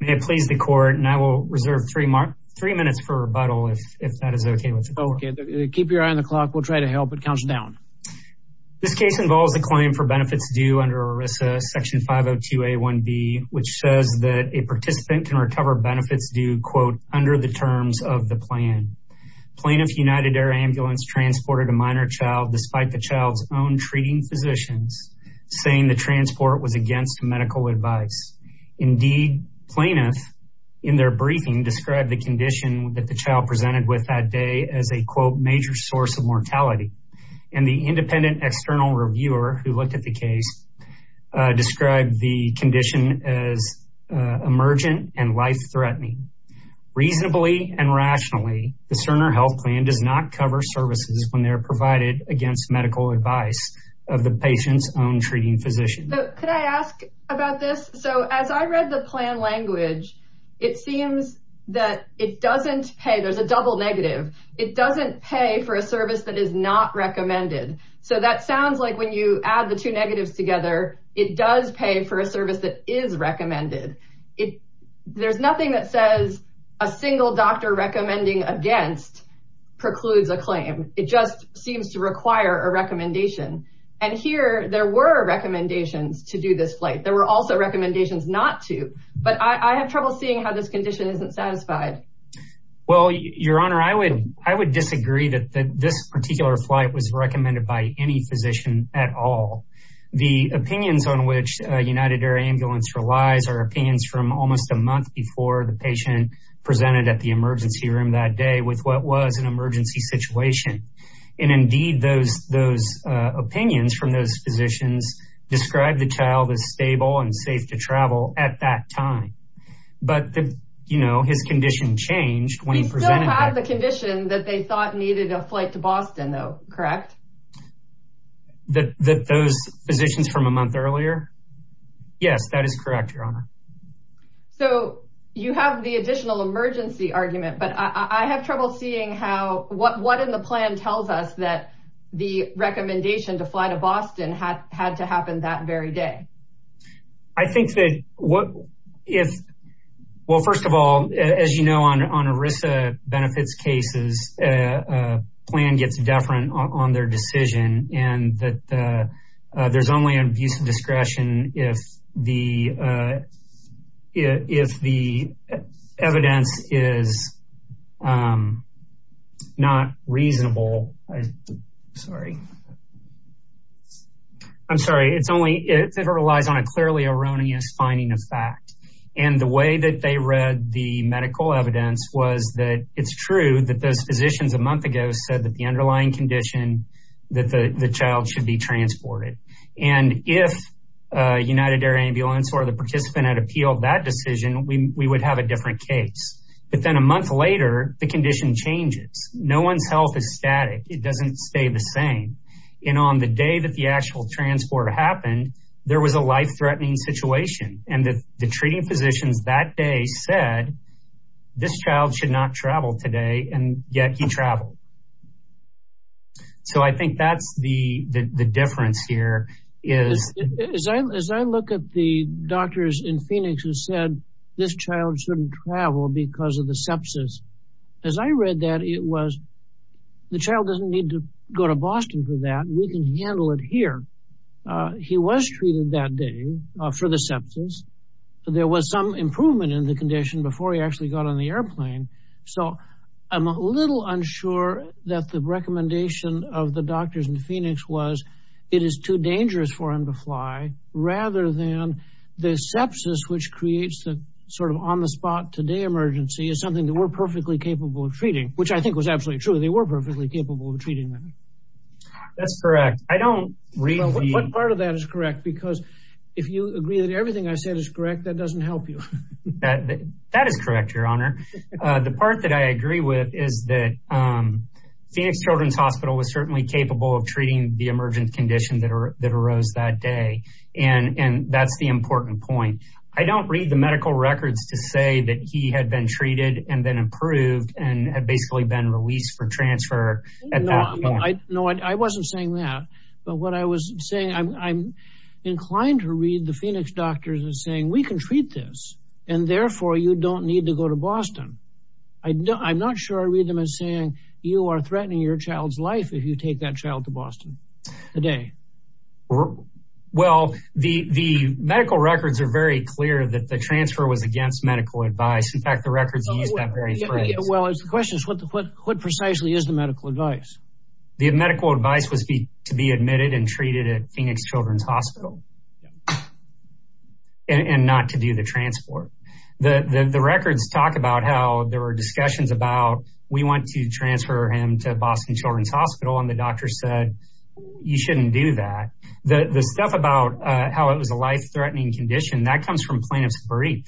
May it please the court and I will reserve three minutes for rebuttal if that is okay with you. Keep your eye on the clock we'll try to help it counts down. This case involves a claim for benefits due under ERISA section 502 a 1b which says that a participant can recover benefits due quote under the terms of the plan. Plaintiff United Air Ambulance transported a minor child despite the child's own treating physicians saying the transport was against medical advice. Indeed plaintiff in their briefing described the condition that the child presented with that day as a quote major source of mortality and the independent external reviewer who looked at the case described the condition as emergent and life-threatening. Reasonably and rationally the Cerner health plan does not cover services when they're so as I read the plan language it seems that it doesn't pay there's a double negative it doesn't pay for a service that is not recommended so that sounds like when you add the two negatives together it does pay for a service that is recommended it there's nothing that says a single doctor recommending against precludes a claim it just seems to require a recommendation and here there were recommendations to do this flight there were also recommendations not to but I have trouble seeing how this condition isn't satisfied. Well your honor I would I would disagree that this particular flight was recommended by any physician at all. The opinions on which United Air Ambulance relies are opinions from almost a month before the patient presented at the emergency room that day with what was an emergency situation and indeed those those opinions from those physicians described the child as stable and safe to travel at that time but you know his condition changed when he presented. He still had the condition that they thought needed a flight to Boston though correct? That those physicians from a month earlier yes that is correct your honor. So you have the additional emergency argument but I have trouble seeing how what what in the plan tells us that the had to happen that very day. I think that what if well first of all as you know on on ERISA benefits cases a plan gets deferent on their decision and that there's only an abuse of discretion if the if the evidence is not reasonable sorry I'm sorry it's only if it relies on a clearly erroneous finding of fact and the way that they read the medical evidence was that it's true that those physicians a month ago said that the underlying condition that the child should be transported and if United Air Ambulance or the participant had appealed that decision we would have a different case but then a month later the doesn't stay the same and on the day that the actual transport happened there was a life-threatening situation and that the treating physicians that day said this child should not travel today and yet he traveled so I think that's the the difference here is as I look at the doctors in Phoenix who said this need to go to Boston for that we can handle it here he was treated that day for the sepsis there was some improvement in the condition before he actually got on the airplane so I'm a little unsure that the recommendation of the doctors in Phoenix was it is too dangerous for him to fly rather than the sepsis which creates the sort of on-the-spot today emergency is something that we're perfectly capable of treating which I think was absolutely true they were perfectly capable of treating them that's correct I don't read what part of that is correct because if you agree that everything I said is correct that doesn't help you that that is correct your honor the part that I agree with is that Phoenix Children's Hospital was certainly capable of treating the emergent condition that are that arose that day and and that's the important point I don't read the medical records to say that he had been treated and then and basically been released for transfer I know I wasn't saying that but what I was saying I'm inclined to read the Phoenix doctors and saying we can treat this and therefore you don't need to go to Boston I know I'm not sure I read them as saying you are threatening your child's life if you take that child to Boston today well the the medical records are very clear that the transfer was against medical advice in fact the records well it's the questions what the put what precisely is the medical advice the medical advice was to be admitted and treated at Phoenix Children's Hospital and not to do the transport the the records talk about how there were discussions about we want to transfer him to Boston Children's Hospital and the doctor said you shouldn't do that the the stuff about how it was a life-threatening condition that comes from plaintiff's brief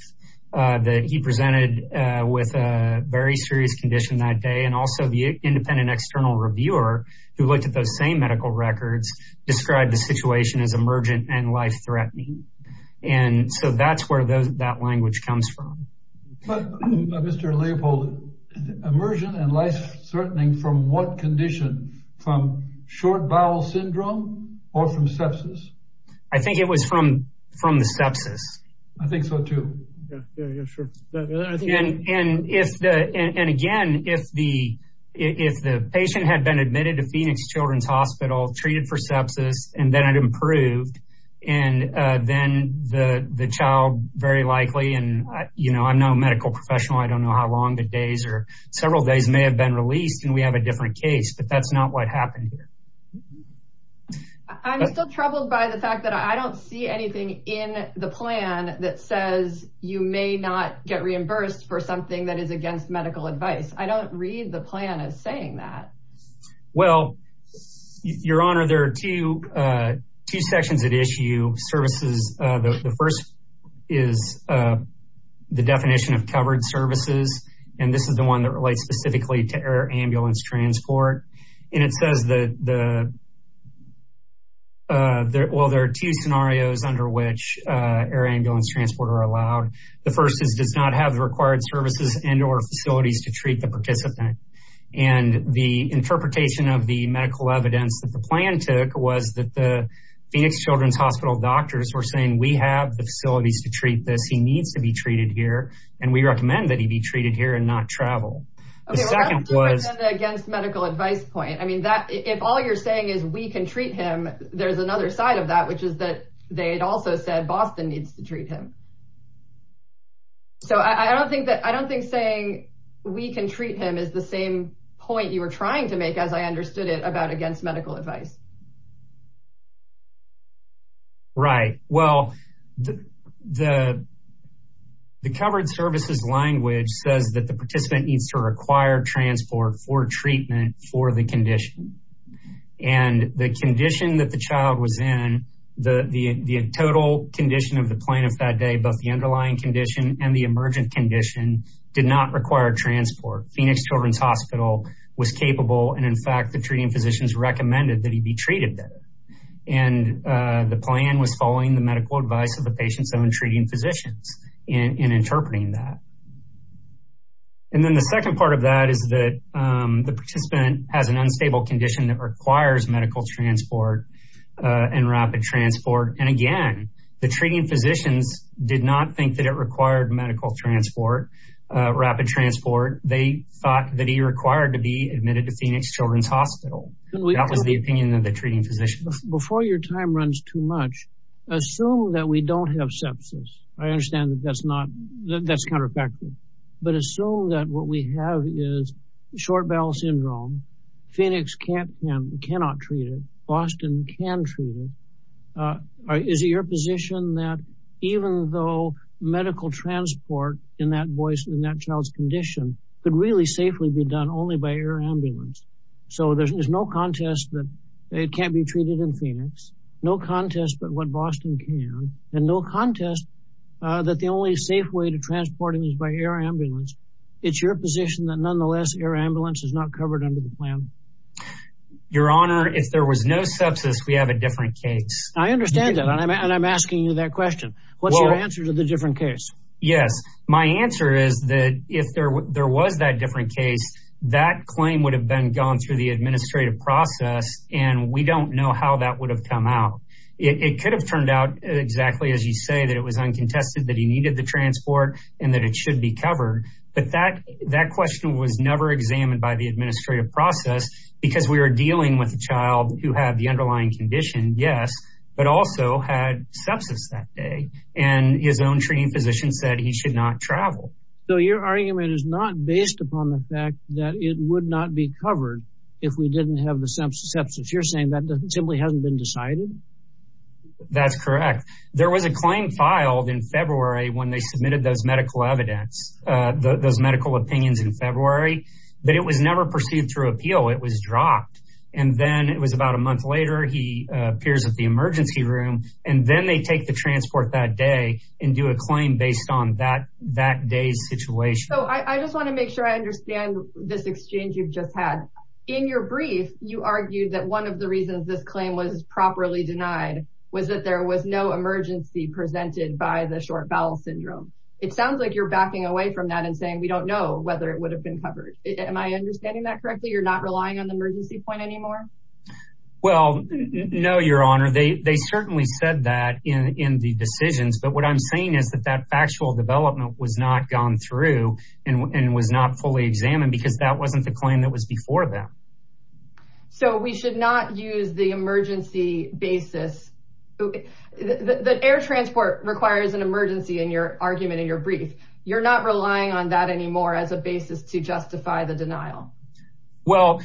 that he presented with a very serious condition that day and also the independent external reviewer who looked at those same medical records described the situation as emergent and life-threatening and so that's where those that language comes from immersion and life-threatening from what condition from short bowel syndrome or from sepsis I think it was from from the sepsis I think so too and if the and again if the if the patient had been admitted to Phoenix Children's Hospital treated for sepsis and then I'd improved and then the the child very likely and you know I'm no medical professional I don't know how long the days or several days may have been released and we have a different case but that's not what happened here I'm still troubled by the fact that I don't see anything in the plan that says you may not get reimbursed for something that is against medical advice I don't read the plan as saying that well your honor there are two two sections that issue services the first is the definition of covered services and this is the one that relates specifically to air ambulance transport and it says that the well there are two scenarios under which air ambulance transport are allowed the first is does not have the required services and or facilities to treat the participant and the interpretation of the medical evidence that the plan took was that the Phoenix Children's Hospital doctors were saying we have the facilities to treat this he needs to be treated here and we recommend that he be treated here and not travel medical advice point I mean that if all you're saying is we can treat him there's another side of that which is that they had also said Boston needs to treat him so I don't think that I don't think saying we can treat him is the same point you were trying to make as I understood it about against medical advice right well the the the covered services language says that the for the condition and the condition that the child was in the the total condition of the plaintiff that day both the underlying condition and the emergent condition did not require transport Phoenix Children's Hospital was capable and in fact the treating physicians recommended that he be treated there and the plan was following the medical advice of the patient's own treating physicians in interpreting that and then the second part of that is that the participant has an unstable condition that requires medical transport and rapid transport and again the treating physicians did not think that it required medical transport rapid transport they thought that he required to be admitted to Phoenix Children's Hospital that was the opinion of the treating physicians before your time runs too much assume that we don't have sepsis I understand that that's not that's counterfactual but it's so that what we have is short bowel syndrome Phoenix can't and cannot treat it Boston can treat it is your position that even though medical transport in that voice in that child's condition could really safely be done only by air ambulance so there's no contest that it can't be treated in Phoenix no contest but what Boston can and no contest that the only safe way to transporting is by air it's your position that nonetheless air ambulance is not covered under the plan your honor if there was no sepsis we have a different case I understand that and I'm asking you that question what's your answer to the different case yes my answer is that if there was that different case that claim would have been gone through the administrative process and we don't know how that would have come out it could have turned out exactly as you say that it was but that that question was never examined by the administrative process because we were dealing with a child who had the underlying condition yes but also had sepsis that day and his own training physician said he should not travel so your argument is not based upon the fact that it would not be covered if we didn't have the sense of substance you're saying that doesn't simply hasn't been decided that's correct there was a claim filed in those medical opinions in February but it was never pursued through appeal it was dropped and then it was about a month later he appears at the emergency room and then they take the transport that day and do a claim based on that that day's situation so I just want to make sure I understand this exchange you've just had in your brief you argued that one of the reasons this claim was properly denied was that there was no emergency presented by the short bowel syndrome it sounds like you're backing away from that and saying we don't know whether it would have been covered am I understanding that correctly you're not relying on the emergency point anymore well no your honor they certainly said that in in the decisions but what I'm saying is that that factual development was not gone through and was not fully examined because that wasn't the claim that was before them so we should not use the emergency basis the air transport requires an emergency in your argument in your brief you're not relying on that anymore as a basis to justify the denial well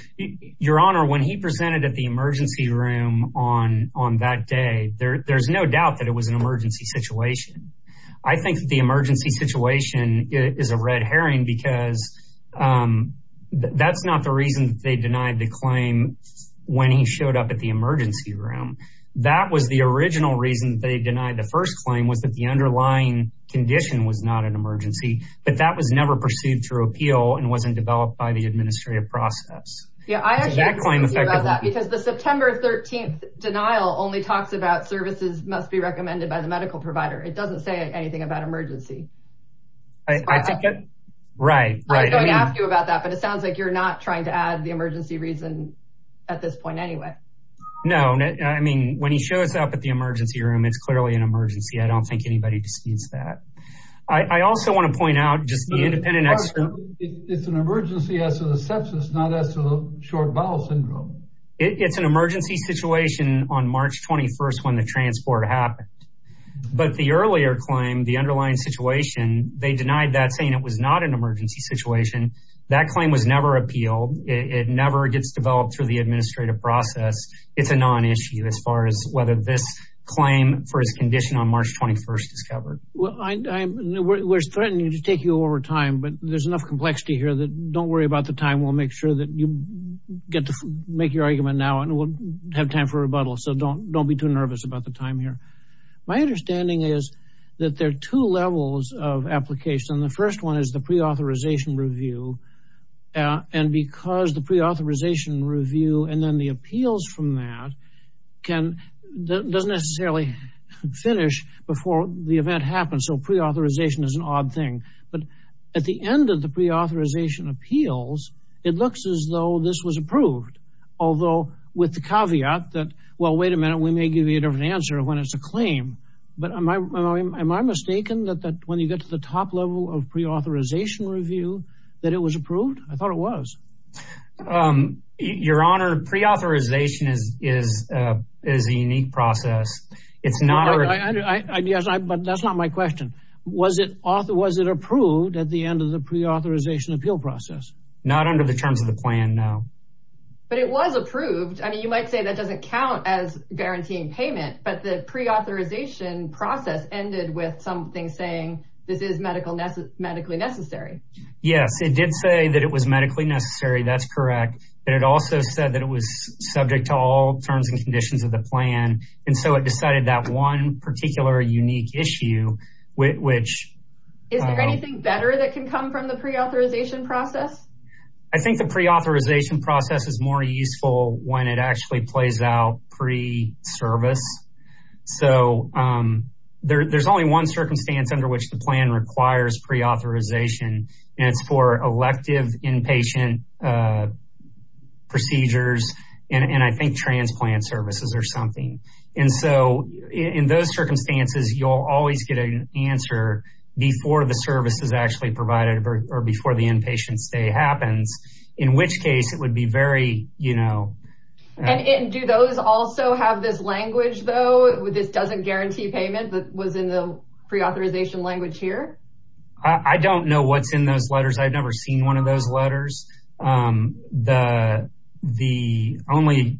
your honor when he presented at the emergency room on on that day there there's no doubt that it was an emergency situation I think the emergency situation is a red herring because that's not the reason they denied the claim when he showed up at the emergency room that was the original reason they denied the first claim was that the underlying condition was not an emergency but that was never perceived through appeal and wasn't developed by the administrative process yeah I have that claim about that because the September 13th denial only talks about services must be recommended by the medical provider it doesn't say anything about emergency I think it right right after you about that but it sounds like you're not trying to add the emergency reason at this point anyway no I mean when he shows up at the emergency room it's clearly an emergency I don't think anybody disputes that I also want to point out just the independent extra it's an emergency as to the sepsis not as to the short bowel syndrome it's an emergency situation on March 21st when the transport happened but the earlier claim the underlying situation they denied that saying it was not an emergency situation that claim was never appealed it never gets developed through the administrative process it's a non-issue as far as whether this claim for his condition on March 21st is covered well I know where it was threatening to take you over time but there's enough complexity here that don't worry about the time we'll make sure that you get to make your argument now and we'll have time for rebuttal so don't don't be too nervous about the time here my understanding is that there are two levels of application the first one is the pre-authorization review and because the pre-authorization review and then the appeals from that can doesn't necessarily finish before the event happens so pre-authorization is an odd thing but at the end of the pre-authorization appeals it looks as though this was approved although with the caveat that well wait a minute we may give you a different answer when it's a claim but am I mistaken that that when you get to the top level of pre-authorization review that it was approved I thought it was your honor pre-authorization is is is a unique process it's not yes I but that's not my question was it off there was it approved at the end of the pre-authorization appeal process not under the terms of the plan now but it was approved I mean you might say that doesn't count as guaranteeing payment but the pre-authorization process ended with something saying this is medical medically necessary yes it did say that it was medically necessary that's correct but it also said that it was subject to all terms and conditions of the plan and so it decided that one particular unique issue which is there anything better that can come from the pre-authorization process I think the pre-authorization process is more useful when it actually plays out pre-service so there's only one circumstance under which the plan requires pre-authorization and it's for elective inpatient procedures and I think transplant services or something and so in those circumstances you'll always get an answer before the service is actually provided or before the inpatient stay happens in which case it would be very you know and do those also have this language though with this doesn't guarantee payment that was in the pre-authorization language here I don't know what's in those letters I've never seen one of those letters the the only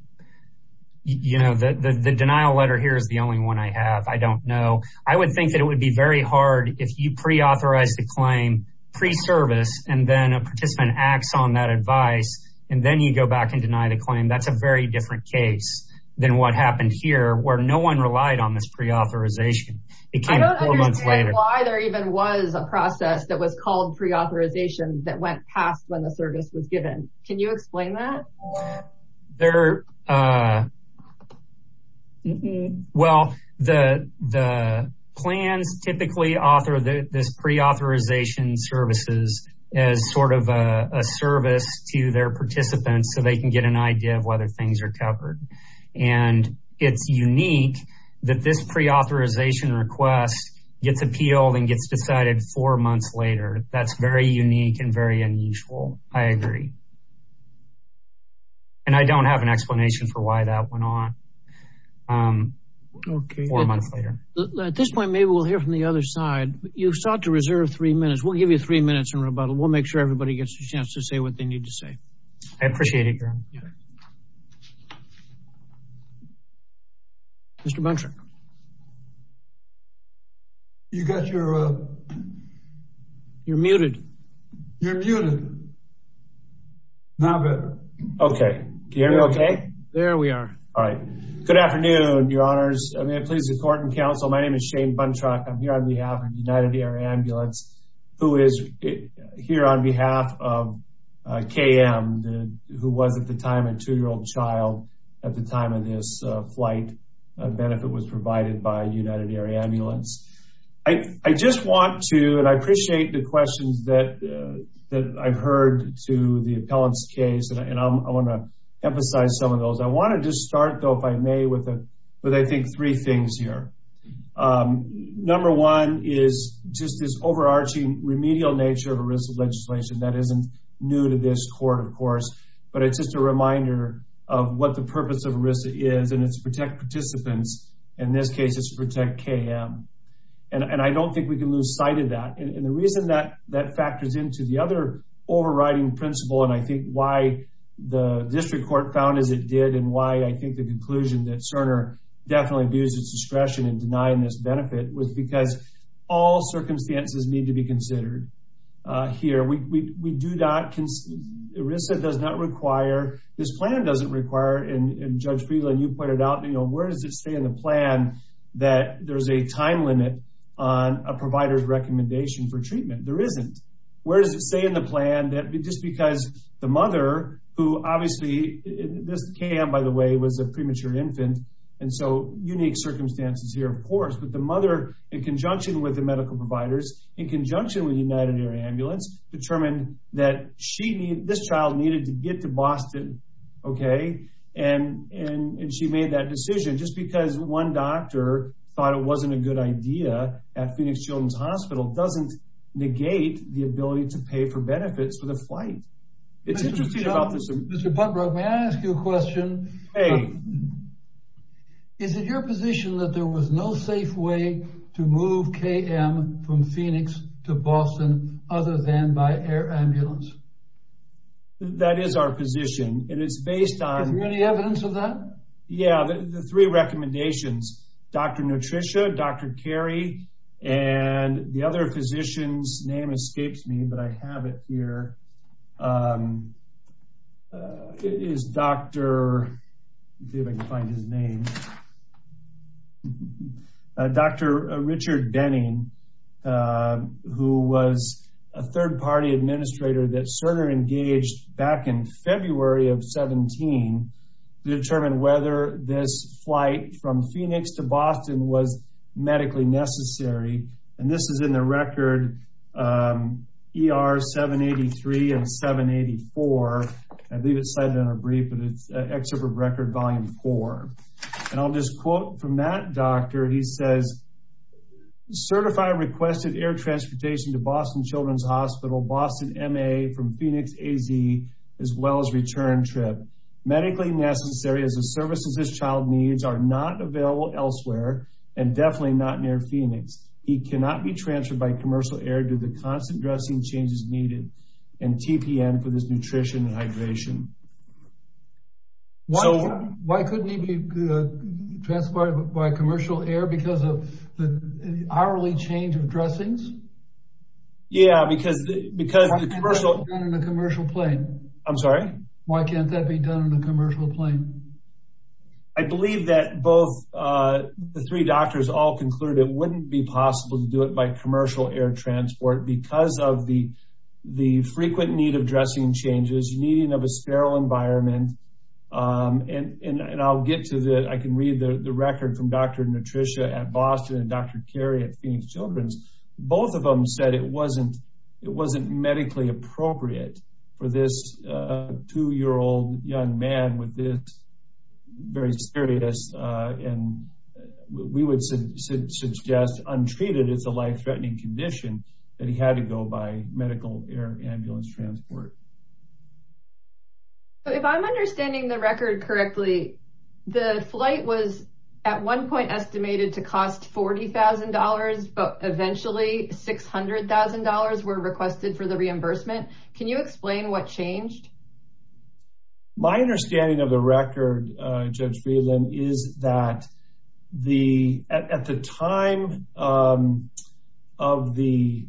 you know the the denial letter here is the only one I have I don't know I would think that it would be very hard if you pre-authorize the claim pre-service and then a participant acts on that advice and then you go back and deny the claim that's a very different case than what happened here where no one relied on this pre-authorization. I don't understand why there even was a process that was called pre-authorization that went past when the service was given can you explain that? There well the the plans typically author this pre-authorization services as sort of a service to their participants so they can get an idea of things are covered and it's unique that this pre-authorization request gets appealed and gets decided four months later that's very unique and very unusual I agree and I don't have an explanation for why that went on. At this point maybe we'll hear from the other side you sought to reserve three minutes we'll give you three minutes in rebuttal we'll make sure everybody gets a chance to say what they need to say. I appreciate it. Mr. Buntruck you got your you're muted. You're muted. Now better. Okay can you hear me okay? There we are. All right good afternoon your honors may I please the court and counsel my name is Shane Buntruck I'm here on behalf of United Air Ambulance who is here on behalf of KM who was at the time a two-year-old child at the time of this flight a benefit was provided by United Air Ambulance. I just want to and I appreciate the questions that that I've heard to the appellants case and I want to emphasize some of those I want to just start though if I may with it but I think three things here. Number one is just this overarching remedial nature of a risk of legislation that isn't new to this court of course but it's just a reminder of what the purpose of risk is and it's protect participants in this case it's protect KM and I don't think we can lose sight of that and the reason that that factors into the other overriding principle and I think why the district court found as it did and why I think the conclusion that Cerner definitely abused its discretion in denying this benefit was because all circumstances need to be considered here we do not consider ERISA does not require this plan doesn't require and Judge Friedland you pointed out you know where does it say in the plan that there's a time limit on a provider's recommendation for treatment there isn't where does it say in the plan that just because the mother who obviously this KM by the way was a premature infant and so unique circumstances here of course but the mother in conjunction with the medical providers in conjunction with United Air Ambulance determined that she needed this child needed to get to Boston okay and and she made that decision just because one doctor thought it wasn't a good idea at Phoenix Children's Hospital doesn't negate the ability to pay for benefits for the flight it's interesting about this Mr. Putbrook may I ask you a question hey is it your position that there was no safe way to move KM from Phoenix to Boston other than by air ambulance that is our position it is based on any evidence of that yeah the three recommendations dr. nutrition dr. Cary and the other physicians name escapes me but I have it here is dr. David find his name dr. Richard Benning who was a third-party administrator that sort of engaged back in February of 17 to determine whether this flight from Phoenix to Boston was medically necessary and this is in the record er 783 and 784 I believe it cited in a brief but it's excerpt of record volume 4 and I'll just quote from that doctor he says certified requested air transportation to Boston Children's Boston MA from Phoenix AZ as well as return trip medically necessary as a service as his child needs are not available elsewhere and definitely not near Phoenix he cannot be transferred by commercial air to the constant dressing changes needed and TPN for this nutrition and hydration why couldn't he be transported by commercial air because of the hourly change of dressings yeah because because the commercial commercial plane I'm sorry why can't that be done in a commercial plane I believe that both the three doctors all concluded wouldn't be possible to do it by commercial air transport because of the the frequent need of dressing changes needing of a sterile environment and and I'll get to that I can read the record from dr. nutrition at Boston and at Phoenix Children's both of them said it wasn't it wasn't medically appropriate for this two-year-old young man with this very serious and we would suggest untreated it's a life-threatening condition that he had to go by medical air ambulance transport if I'm understanding the record correctly the flight was at one point estimated to cost $40,000 but eventually $600,000 were requested for the reimbursement can you explain what changed my understanding of the record judge Friedland is that the at the time of the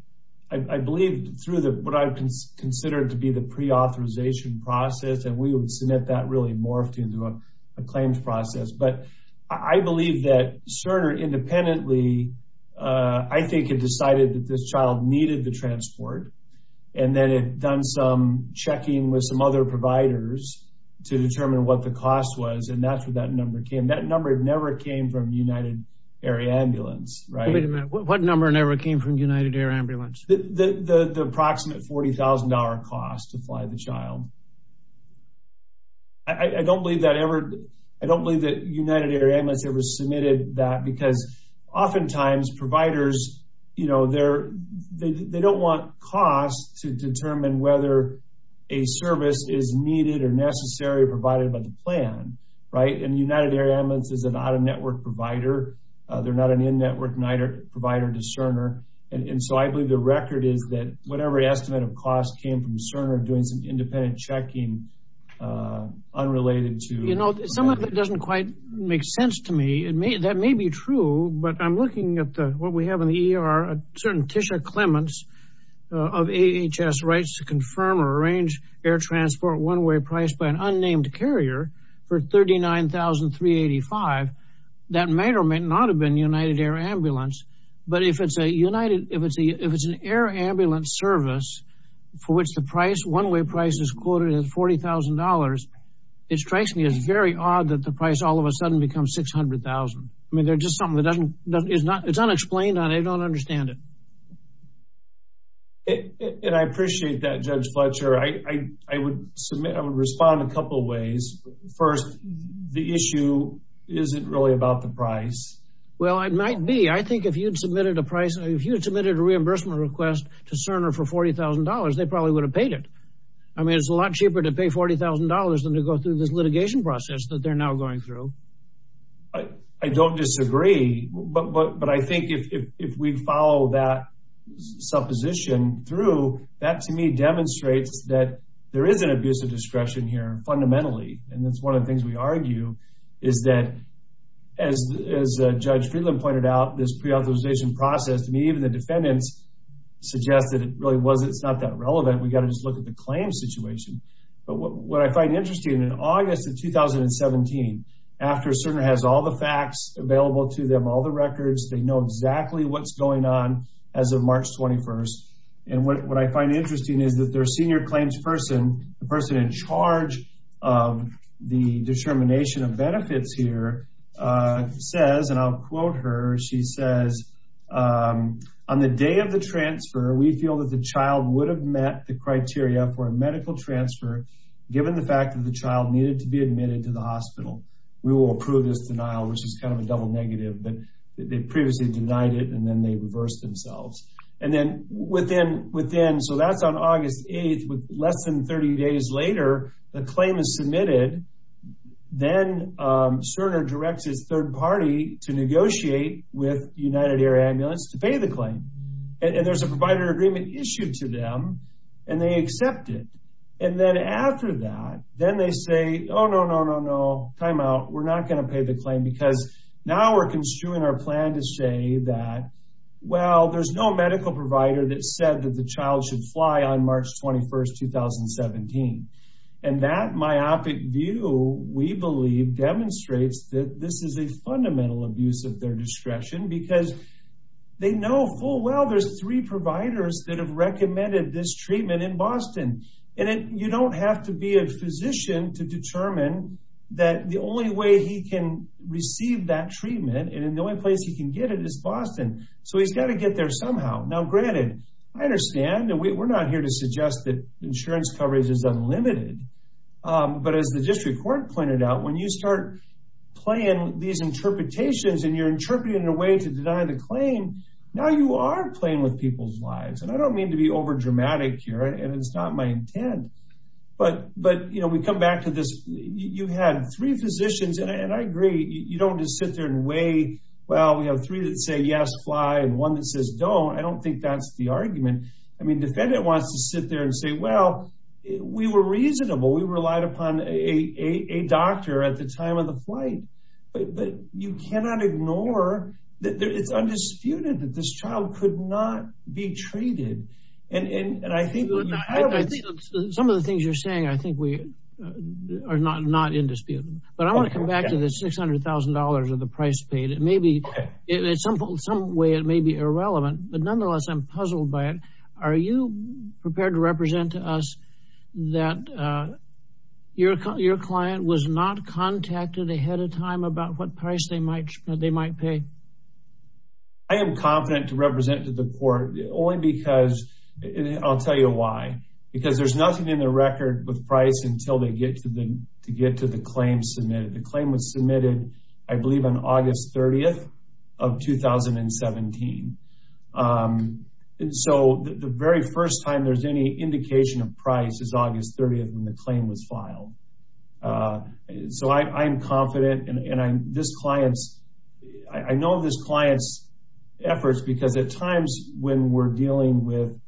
I believe through the what I've considered to be the pre authorization process and we would submit that really morphed into a claims process but I believe that Cerner independently I think it decided that this child needed the transport and then it done some checking with some other providers to determine what the cost was and that's what that number came that number never came from United Air Ambulance right what number never came from United Air I don't believe that ever I don't believe that United Air Ambulance ever submitted that because oftentimes providers you know they're they don't want cost to determine whether a service is needed or necessary provided by the plan right and United Air Ambulance is an out-of-network provider they're not an in-network provider to Cerner and so I believe the record is that whatever estimate of cost came from Cerner doing some independent checking unrelated to you know some of it doesn't quite make sense to me it may that may be true but I'm looking at what we have in the ER certain Tisha Clements of AHS rights to confirm or arrange air transport one-way price by an unnamed carrier for $39,385 that may or may not have been United Air Ambulance but if it's a United if it's a if it's an air ambulance service for which the price one-way price is quoted at $40,000 it strikes me as very odd that the price all of a sudden becomes 600,000 I mean they're just something that doesn't is not it's unexplained on I don't understand it and I appreciate that judge Fletcher I I would submit I would respond a couple ways first the issue isn't really about the price well I might be I think if you'd submitted a price if you submitted a reimbursement request to Cerner for $40,000 they probably would have paid it I mean it's a lot cheaper to pay $40,000 than to go through this litigation process that they're now going through I I don't disagree but but but I think if we follow that supposition through that to me demonstrates that there is an abuse of discretion here fundamentally and it's one of the things we argue is that as Judge Friedland pointed out this pre-authorization process to me even the defendants suggested it really was it's not that relevant we got to just look at the claim situation but what I find interesting in August of 2017 after Cerner has all the facts available to them all the records they know exactly what's going on as of March 21st and what I find interesting is that their senior claims person the person in the determination of benefits here says and I'll quote her she says on the day of the transfer we feel that the child would have met the criteria for a medical transfer given the fact that the child needed to be admitted to the hospital we will approve this denial which is kind of a double negative but they previously denied it and then they reversed themselves and then within so that's on August 8th with less than 30 days later the claim is submitted then Cerner directs his third party to negotiate with United Air Ambulance to pay the claim and there's a provider agreement issued to them and they accept it and then after that then they say oh no no no no timeout we're not gonna pay the claim because now we're construing our plan to say that well there's no medical provider that said that the child should fly on March 21st 2017 and that myopic view we believe demonstrates that this is a fundamental abuse of their discretion because they know full well there's three providers that have recommended this treatment in Boston and it you don't have to be a physician to determine that the only way he can receive that treatment and in the only place he can get it is Boston so he's got to get there somehow now granted I understand and we're not here to suggest that insurance coverage is unlimited but as the district court pointed out when you start playing these interpretations and you're interpreting a way to deny the claim now you are playing with people's lives and I don't mean to be overdramatic here and it's not my intent but but you know we come back to this you had three physicians and I agree you don't just sit there and wait well we have three that say yes fly and one that says don't I don't think that's the argument I mean defendant wants to sit there and say well we were reasonable we relied upon a doctor at the time of the flight but you cannot ignore that it's undisputed that this child could not be treated and I think some of the things you're saying I think we are not not in dispute but I want to come back to the $600,000 of the price paid it may be simple some way it may be irrelevant but nonetheless I'm puzzled by it are you prepared to represent to us that your client was not contacted ahead of time about what price they might they might pay I am confident to represent to the court only because I'll tell you why because there's nothing in the record with price until they get to them to get to the claim submitted the claim was submitted I believe on August 30th of 2017 and so the very first time there's any indication of price is August 30th when the claim was filed so I'm confident and I'm this clients I know this clients efforts because at times when we're dealing with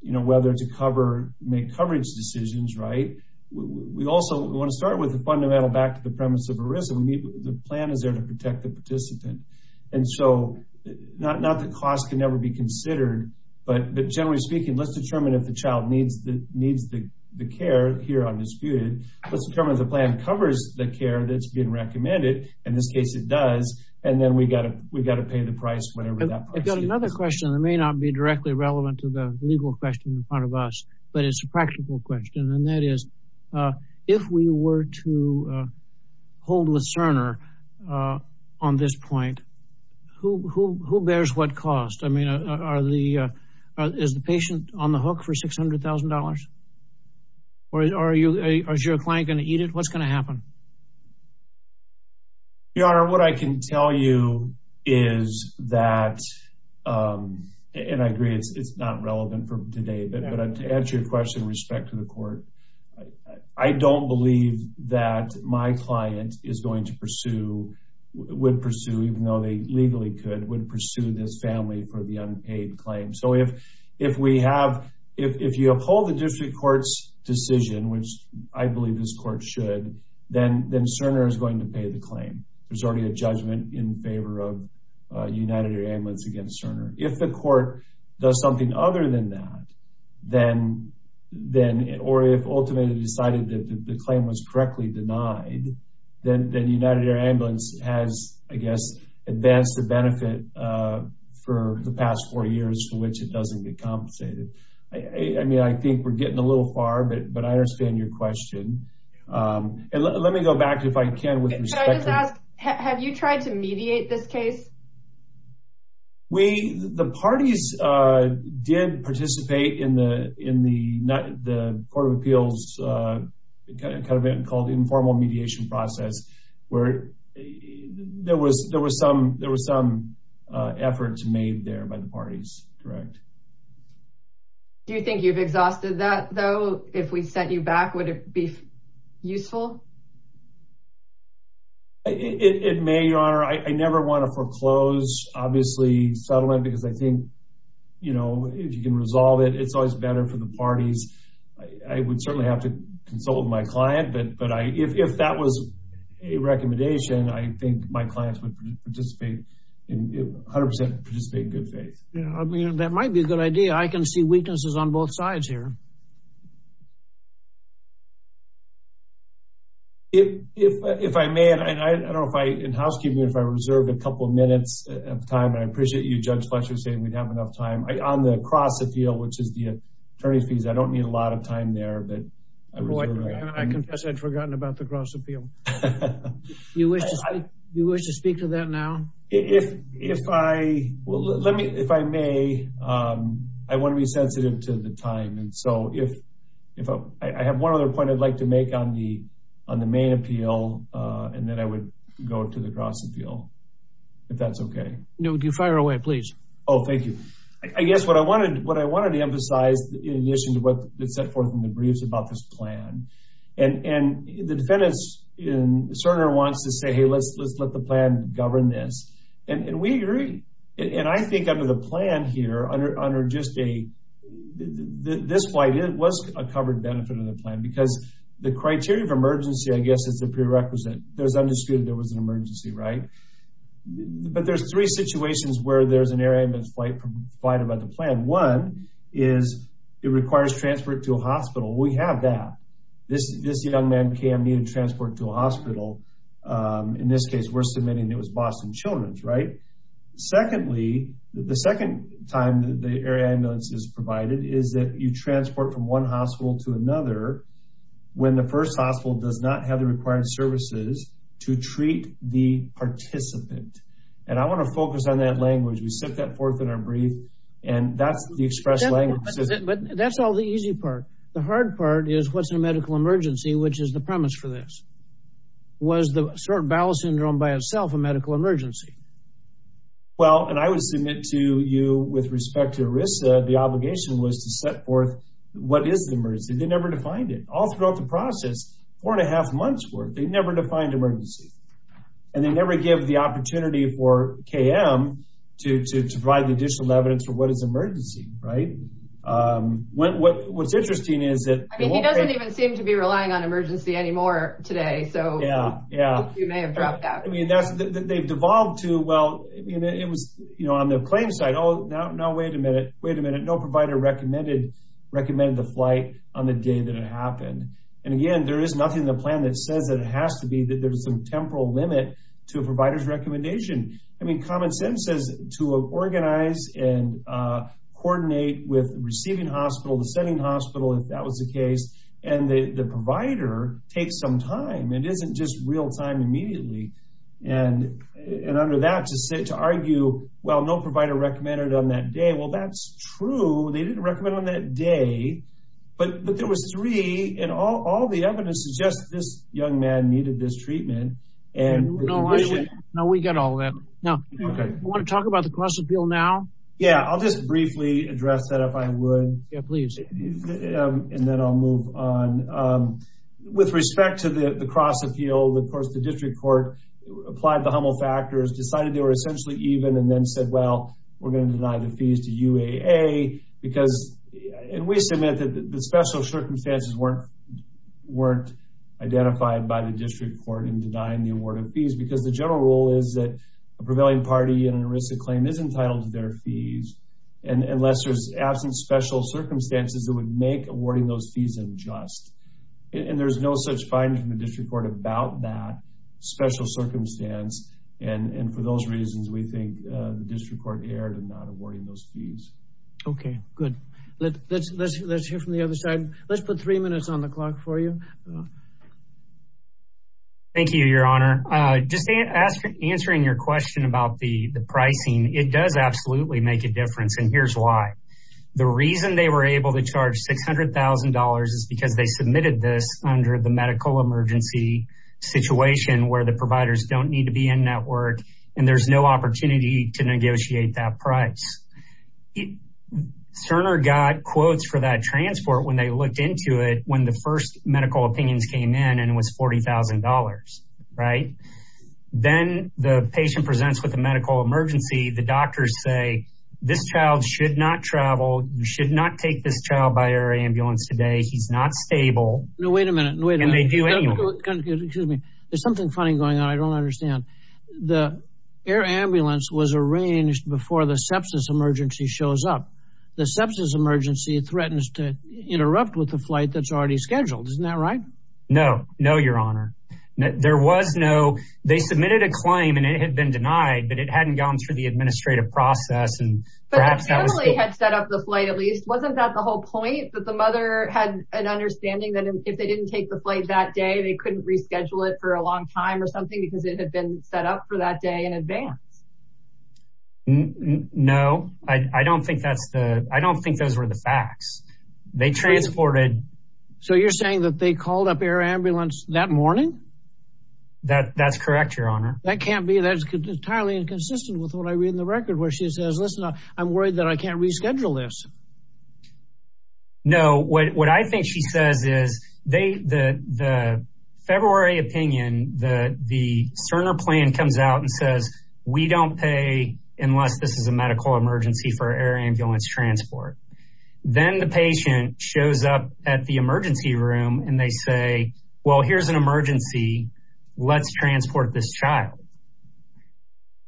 you know whether to cover make coverage decisions right we also want to start with the fundamental back to the premise of a risk of the plan is there to protect the participant and so not not the cost can never be considered but generally speaking let's determine if the child needs that needs the care here undisputed let's determine the plan covers the care that's being recommended in this case it does and then we got it we've got to pay the price whatever that I've got another question that may not be directly relevant to the legal question in front of us but it's a question and that is if we were to hold with Cerner on this point who bears what cost I mean are the is the patient on the hook for $600,000 or are you a client going to eat it what's going to happen your honor what I can tell you is that and I agree it's not relevant for today but I'm to answer your question respect to the court I don't believe that my client is going to pursue would pursue even though they legally could would pursue this family for the unpaid claim so if if we have if you uphold the district courts decision which I believe this court should then then Cerner is going to pay the claim there's already a judgment in favor of United Air Ambulance against Cerner if the court does something other than that then then it or if ultimately decided that the claim was correctly denied then the United Air Ambulance has I guess advanced the benefit for the past four years for which it doesn't get compensated I mean I think we're getting a little far but but I understand your question and let me go back to if I can with respect have you tried to mediate this case we the parties did participate in the in the not the Court of Appeals kind of been called informal mediation process where there was there was some there was some effort to made there by the parties correct do you think you've exhausted that though if we sent you back would it be useful it may your honor I never want to foreclose obviously settlement because I think you know if you can resolve it it's always better for the parties I would certainly have to consult with my client but but I if that was a recommendation I think my clients would participate in 100% participate good faith yeah I mean that might be a good idea I can see weaknesses on both sides here if if I may and I don't fight in housekeeping if I reserve a couple of minutes of time I appreciate you judge Fletcher saying we'd have enough time I on the cross appeal which is the attorney's fees I don't need a lot of time there but I confess I'd forgotten about the cross appeal you wish you wish to speak to that now if if I well let me if I may I want to be so if I have one other point I'd like to make on the on the main appeal and then I would go to the cross appeal if that's okay no do you fire away please oh thank you I guess what I wanted what I wanted to emphasize in addition to what it set forth in the briefs about this plan and and the defendants in Cerner wants to say hey let's let's let the plan govern this and we agree and I think under the plan here under just a this flight it was a covered benefit of the plan because the criteria of emergency I guess it's a prerequisite there's understood there was an emergency right but there's three situations where there's an air ambulance flight provided by the plan one is it requires transport to a hospital we have that this this young man cam you transport to a hospital in this case we're submitting it was Boston Children's right secondly the second time the air ambulance is provided is that you transport from one hospital to another when the first hospital does not have the required services to treat the participant and I want to focus on that language we set that forth in our brief and that's the express lane but that's all the easy part the hard part is what's a medical emergency which is the premise for this was the sort bowel syndrome by itself a medical emergency well and I would submit to you with respect to Arisa the obligation was to set forth what is the emergency they never defined it all throughout the process four and a half months work they never defined emergency and they never give the opportunity for KM to provide the additional evidence for what is emergency right when what what's interesting is that he doesn't even seem to be relying on emergency anymore today so yeah yeah you may have dropped out I mean that's that they've evolved to well you know it was you know on the plain side oh no no wait a minute wait a minute no provider recommended recommend the flight on the day that it happened and again there is nothing the plan that says that it has to be that there's some temporal limit to a provider's recommendation I mean common sense says to organize and coordinate with receiving hospital the setting hospital if that was the case and the provider takes some time it and under that to sit to argue well no provider recommended on that day well that's true they didn't recommend on that day but there was three and all all the evidence is just this young man needed this treatment and no no we got all that no I want to talk about the cross-appeal now yeah I'll just briefly address that if I would yeah please and then I'll move on with respect to the cross-appeal of course the district court applied the Hummel factors decided they were essentially even and then said well we're gonna deny the fees to UAA because and we submit that the special circumstances weren't weren't identified by the district court in denying the award of fees because the general rule is that a prevailing party and a risk of claim is entitled to their fees and unless there's absent special circumstances that would make awarding those fees unjust and there's no such finding the district court about that special circumstance and and for those reasons we think the district court erred in not awarding those fees okay good let's let's let's hear from the other side let's put three minutes on the clock for you thank you your honor just asked for answering your question about the the pricing it does absolutely make a difference and here's why the reason they were able to charge six dollars is because they submitted this under the medical emergency situation where the providers don't need to be in network and there's no opportunity to negotiate that price it Cerner got quotes for that transport when they looked into it when the first medical opinions came in and was $40,000 right then the patient presents with a medical emergency the doctors say this child should not travel you should not take this child by air ambulance today he's not stable no wait a minute wait and they do excuse me there's something funny going on I don't understand the air ambulance was arranged before the sepsis emergency shows up the sepsis emergency threatens to interrupt with the flight that's already scheduled isn't that right no no your honor there was no they submitted a claim and it had been denied but it hadn't gone through the administrative process and perhaps had set up the flight at least wasn't that the whole point that the mother had an understanding that if they didn't take the flight that day they couldn't reschedule it for a long time or something because it had been set up for that day in advance no I don't think that's the I don't think those were the facts they transported so you're saying that they called up air ambulance that morning that that's correct your honor that can't be that's entirely inconsistent with what I read in the record where she says listen up I'm worried that I can't reschedule this no what I think she says is they the the February opinion the the Cerner plan comes out and says we don't pay unless this is a medical emergency for air ambulance transport then the patient shows up at the emergency room and they say well here's an emergency let's transport this child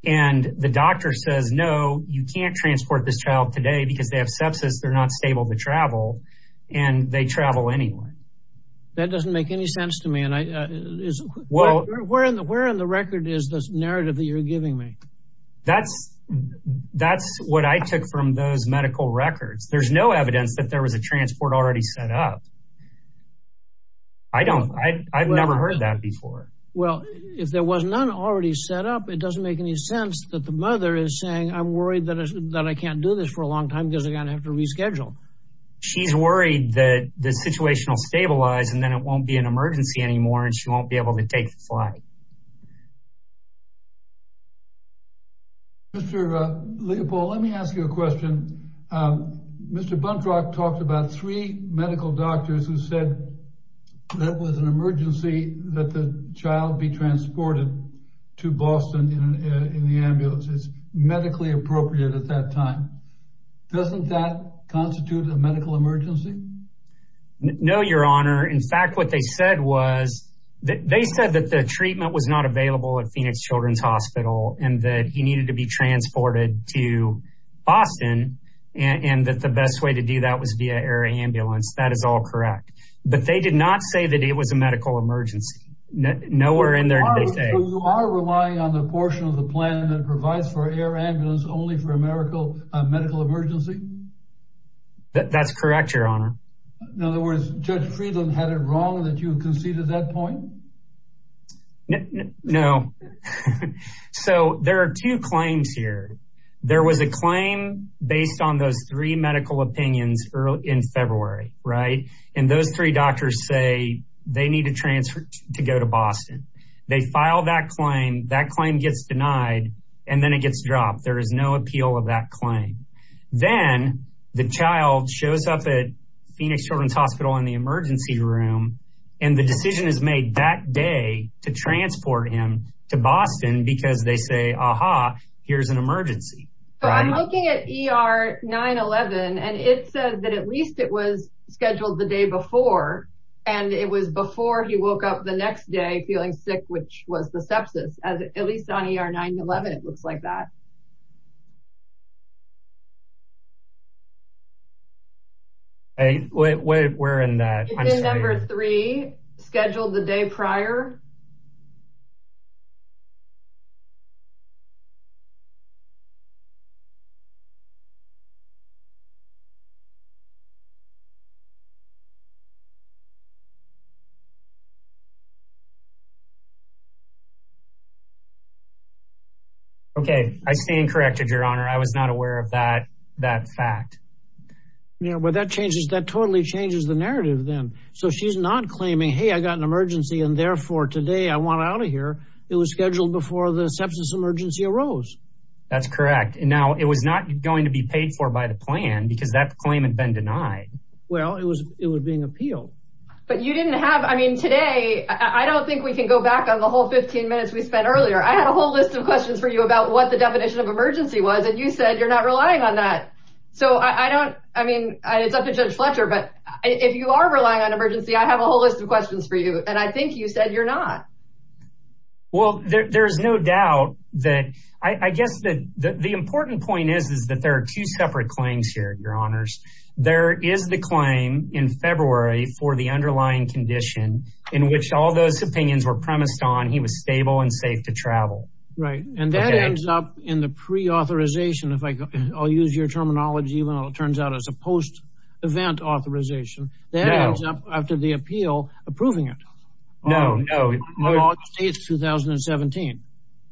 and the doctor says no you can't transport this child today because they have sepsis they're not stable to travel and they travel anyone that doesn't make any sense to me and I well we're in the where in the record is this narrative that you're giving me that's that's what I took from those medical records there's no evidence that there was a transport already set up I don't I've never heard that before well if there was none already set up it doesn't make any sense that the mother is saying I'm worried that is that I can't do this for a long time doesn't gonna have to reschedule she's worried that the situation will stabilize and then it won't be an emergency anymore and she won't be able to take the flight mr. Leopold let me ask you a question mr. Buntrock talked about three medical doctors who said that was an emergency that the child be transported to Boston in the ambulance it's medically appropriate at that time doesn't that constitute a medical emergency no your honor in fact what they said was that they said that the treatment was not available at Phoenix Children's Hospital and that he needed to be transported to Boston and that the best way to do that was via air ambulance that is all correct but they did not say that it was a medical emergency no where in there today are relying on the portion of the plan that provides for air ambulance only for a miracle medical emergency that's correct your honor in other words judge Friedland had it wrong that you know so there are two claims here there was a claim based on those three medical opinions early in February right and those three doctors say they need to transfer to go to Boston they filed that claim that claim gets denied and then it gets dropped there is no appeal of that claim then the child shows up at Phoenix Children's Hospital in the emergency room and the decision is made that day to transport him to Boston because they say aha here's an emergency I'm looking at er 9-11 and it says that at least it was scheduled the day before and it was before he woke up the next day feeling sick which was the sepsis as at least on er 9-11 it looks like that all right a way we're in that number three scheduled the day prior corrected your honor I was not aware of that that fact yeah well that changes that totally changes the narrative then so she's not claiming hey I got an emergency and therefore today I want out of here it was scheduled before the substance emergency arose that's correct now it was not going to be paid for by the plan because that claim had been denied well it was it was being appealed but you didn't have I mean today I don't think we can go back on the whole 15 minutes we spent earlier I had a whole list of questions for you about what the emergency was and you said you're not relying on that so I don't I mean it's up to judge Fletcher but if you are relying on emergency I have a whole list of questions for you and I think you said you're not well there's no doubt that I guess that the important point is is that there are two separate claims here your honors there is the claim in February for the underlying condition in which all those opinions were premised on he was stable and safe to travel right and that ends up in the pre-authorization if I go I'll use your terminology when it turns out as a post-event authorization that ends up after the appeal approving it no no it's 2017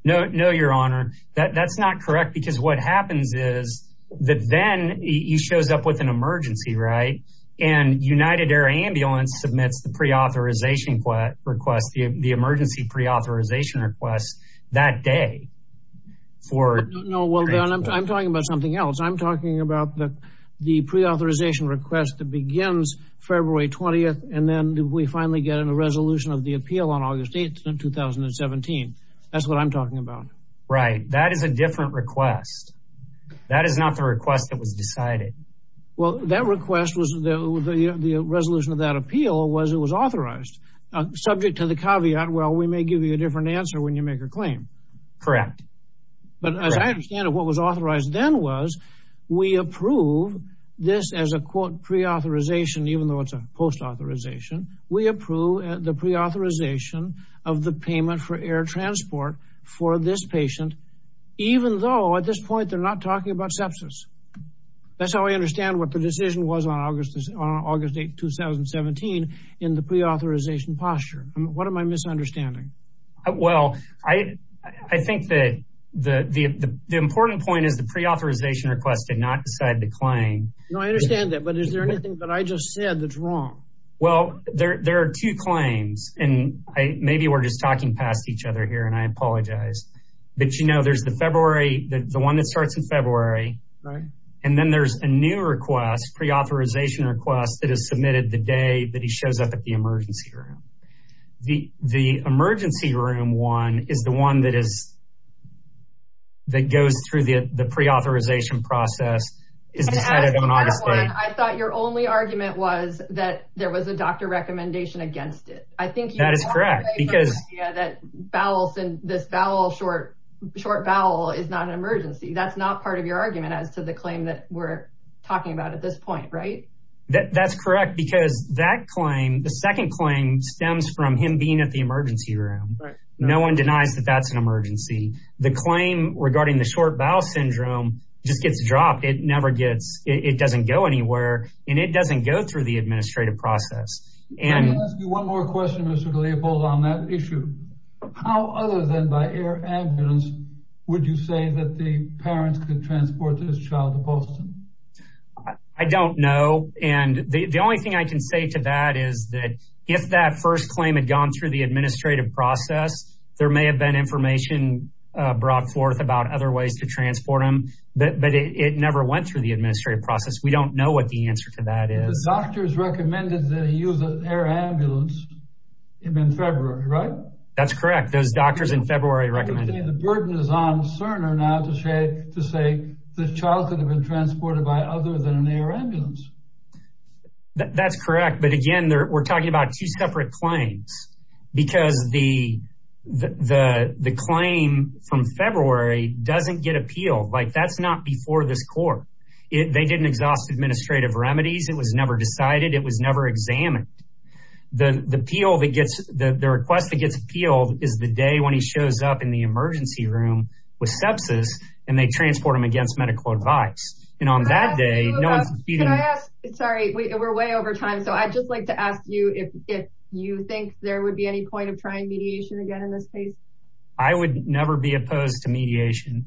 no no your honor that that's not correct because what happens is that then he shows up with an emergency right and United Air Ambulance submits the pre-authorization request the emergency pre-authorization request that day for no well I'm talking about something else I'm talking about the the pre-authorization request that begins February 20th and then we finally get in a resolution of the appeal on August 8 2017 that's what I'm talking about right that is a different request that is not the request that was decided well that request was the resolution of that give you a different answer when you make a claim correct but I understand what was authorized then was we approve this as a quote pre-authorization even though it's a post authorization we approve the pre-authorization of the payment for air transport for this patient even though at this point they're not talking about sepsis that's how I understand what the decision was on August August 8 2017 in the pre-authorization posture what am I misunderstanding well I I think that the the important point is the pre-authorization request did not decide the claim no I understand that but is there anything but I just said that's wrong well there are two claims and I maybe we're just talking past each other here and I apologize but you know there's the February the one that starts in February right and then there's a new request pre-authorization request that is submitted the day that he shows up at the emergency room the the emergency room one is the one that is that goes through the the pre-authorization process is decided I thought your only argument was that there was a doctor recommendation against it I think that is correct because that bowels and this vowel short short vowel is not an emergency that's not part of your argument as to the claim that we're talking about at this point right that that's correct because that claim the second claim stems from him being at the emergency room no one denies that that's an emergency the claim regarding the short bowel syndrome just gets dropped it never gets it doesn't go anywhere and it doesn't go through the I don't know and the only thing I can say to that is that if that first claim had gone through the administrative process there may have been information brought forth about other ways to transport him but it never went through the administrative process we don't know what the answer to that is doctors recommended the use of air ambulance in February right that's correct those doctors in February recommend the burden is on Cerner now to say to say the child could have been transported by other than an air ambulance that's correct but again we're talking about two separate claims because the the the claim from February doesn't get appealed like that's not before this court if they didn't exhaust administrative remedies it was never decided it was never examined the the appeal that gets the request that gets appealed is the day when he shows up in the emergency room with sepsis and they transport him against medical advice and on that day sorry we're way over time so I just like to ask you if you think there would be any point of trying mediation again in this case I would never be opposed to mediation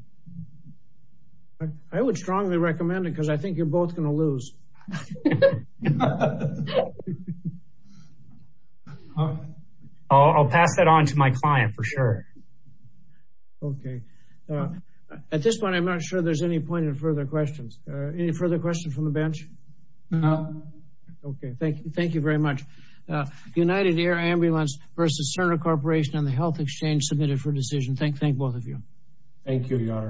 I would strongly recommend it because I think you're both gonna lose I'll pass that on to my client for sure okay at this point I'm not sure there's any point in further questions any further question from the bench no okay thank you thank you very much United Air Ambulance versus Cerner Corporation and the Health Exchange submitted for decision thank thank both of you thank you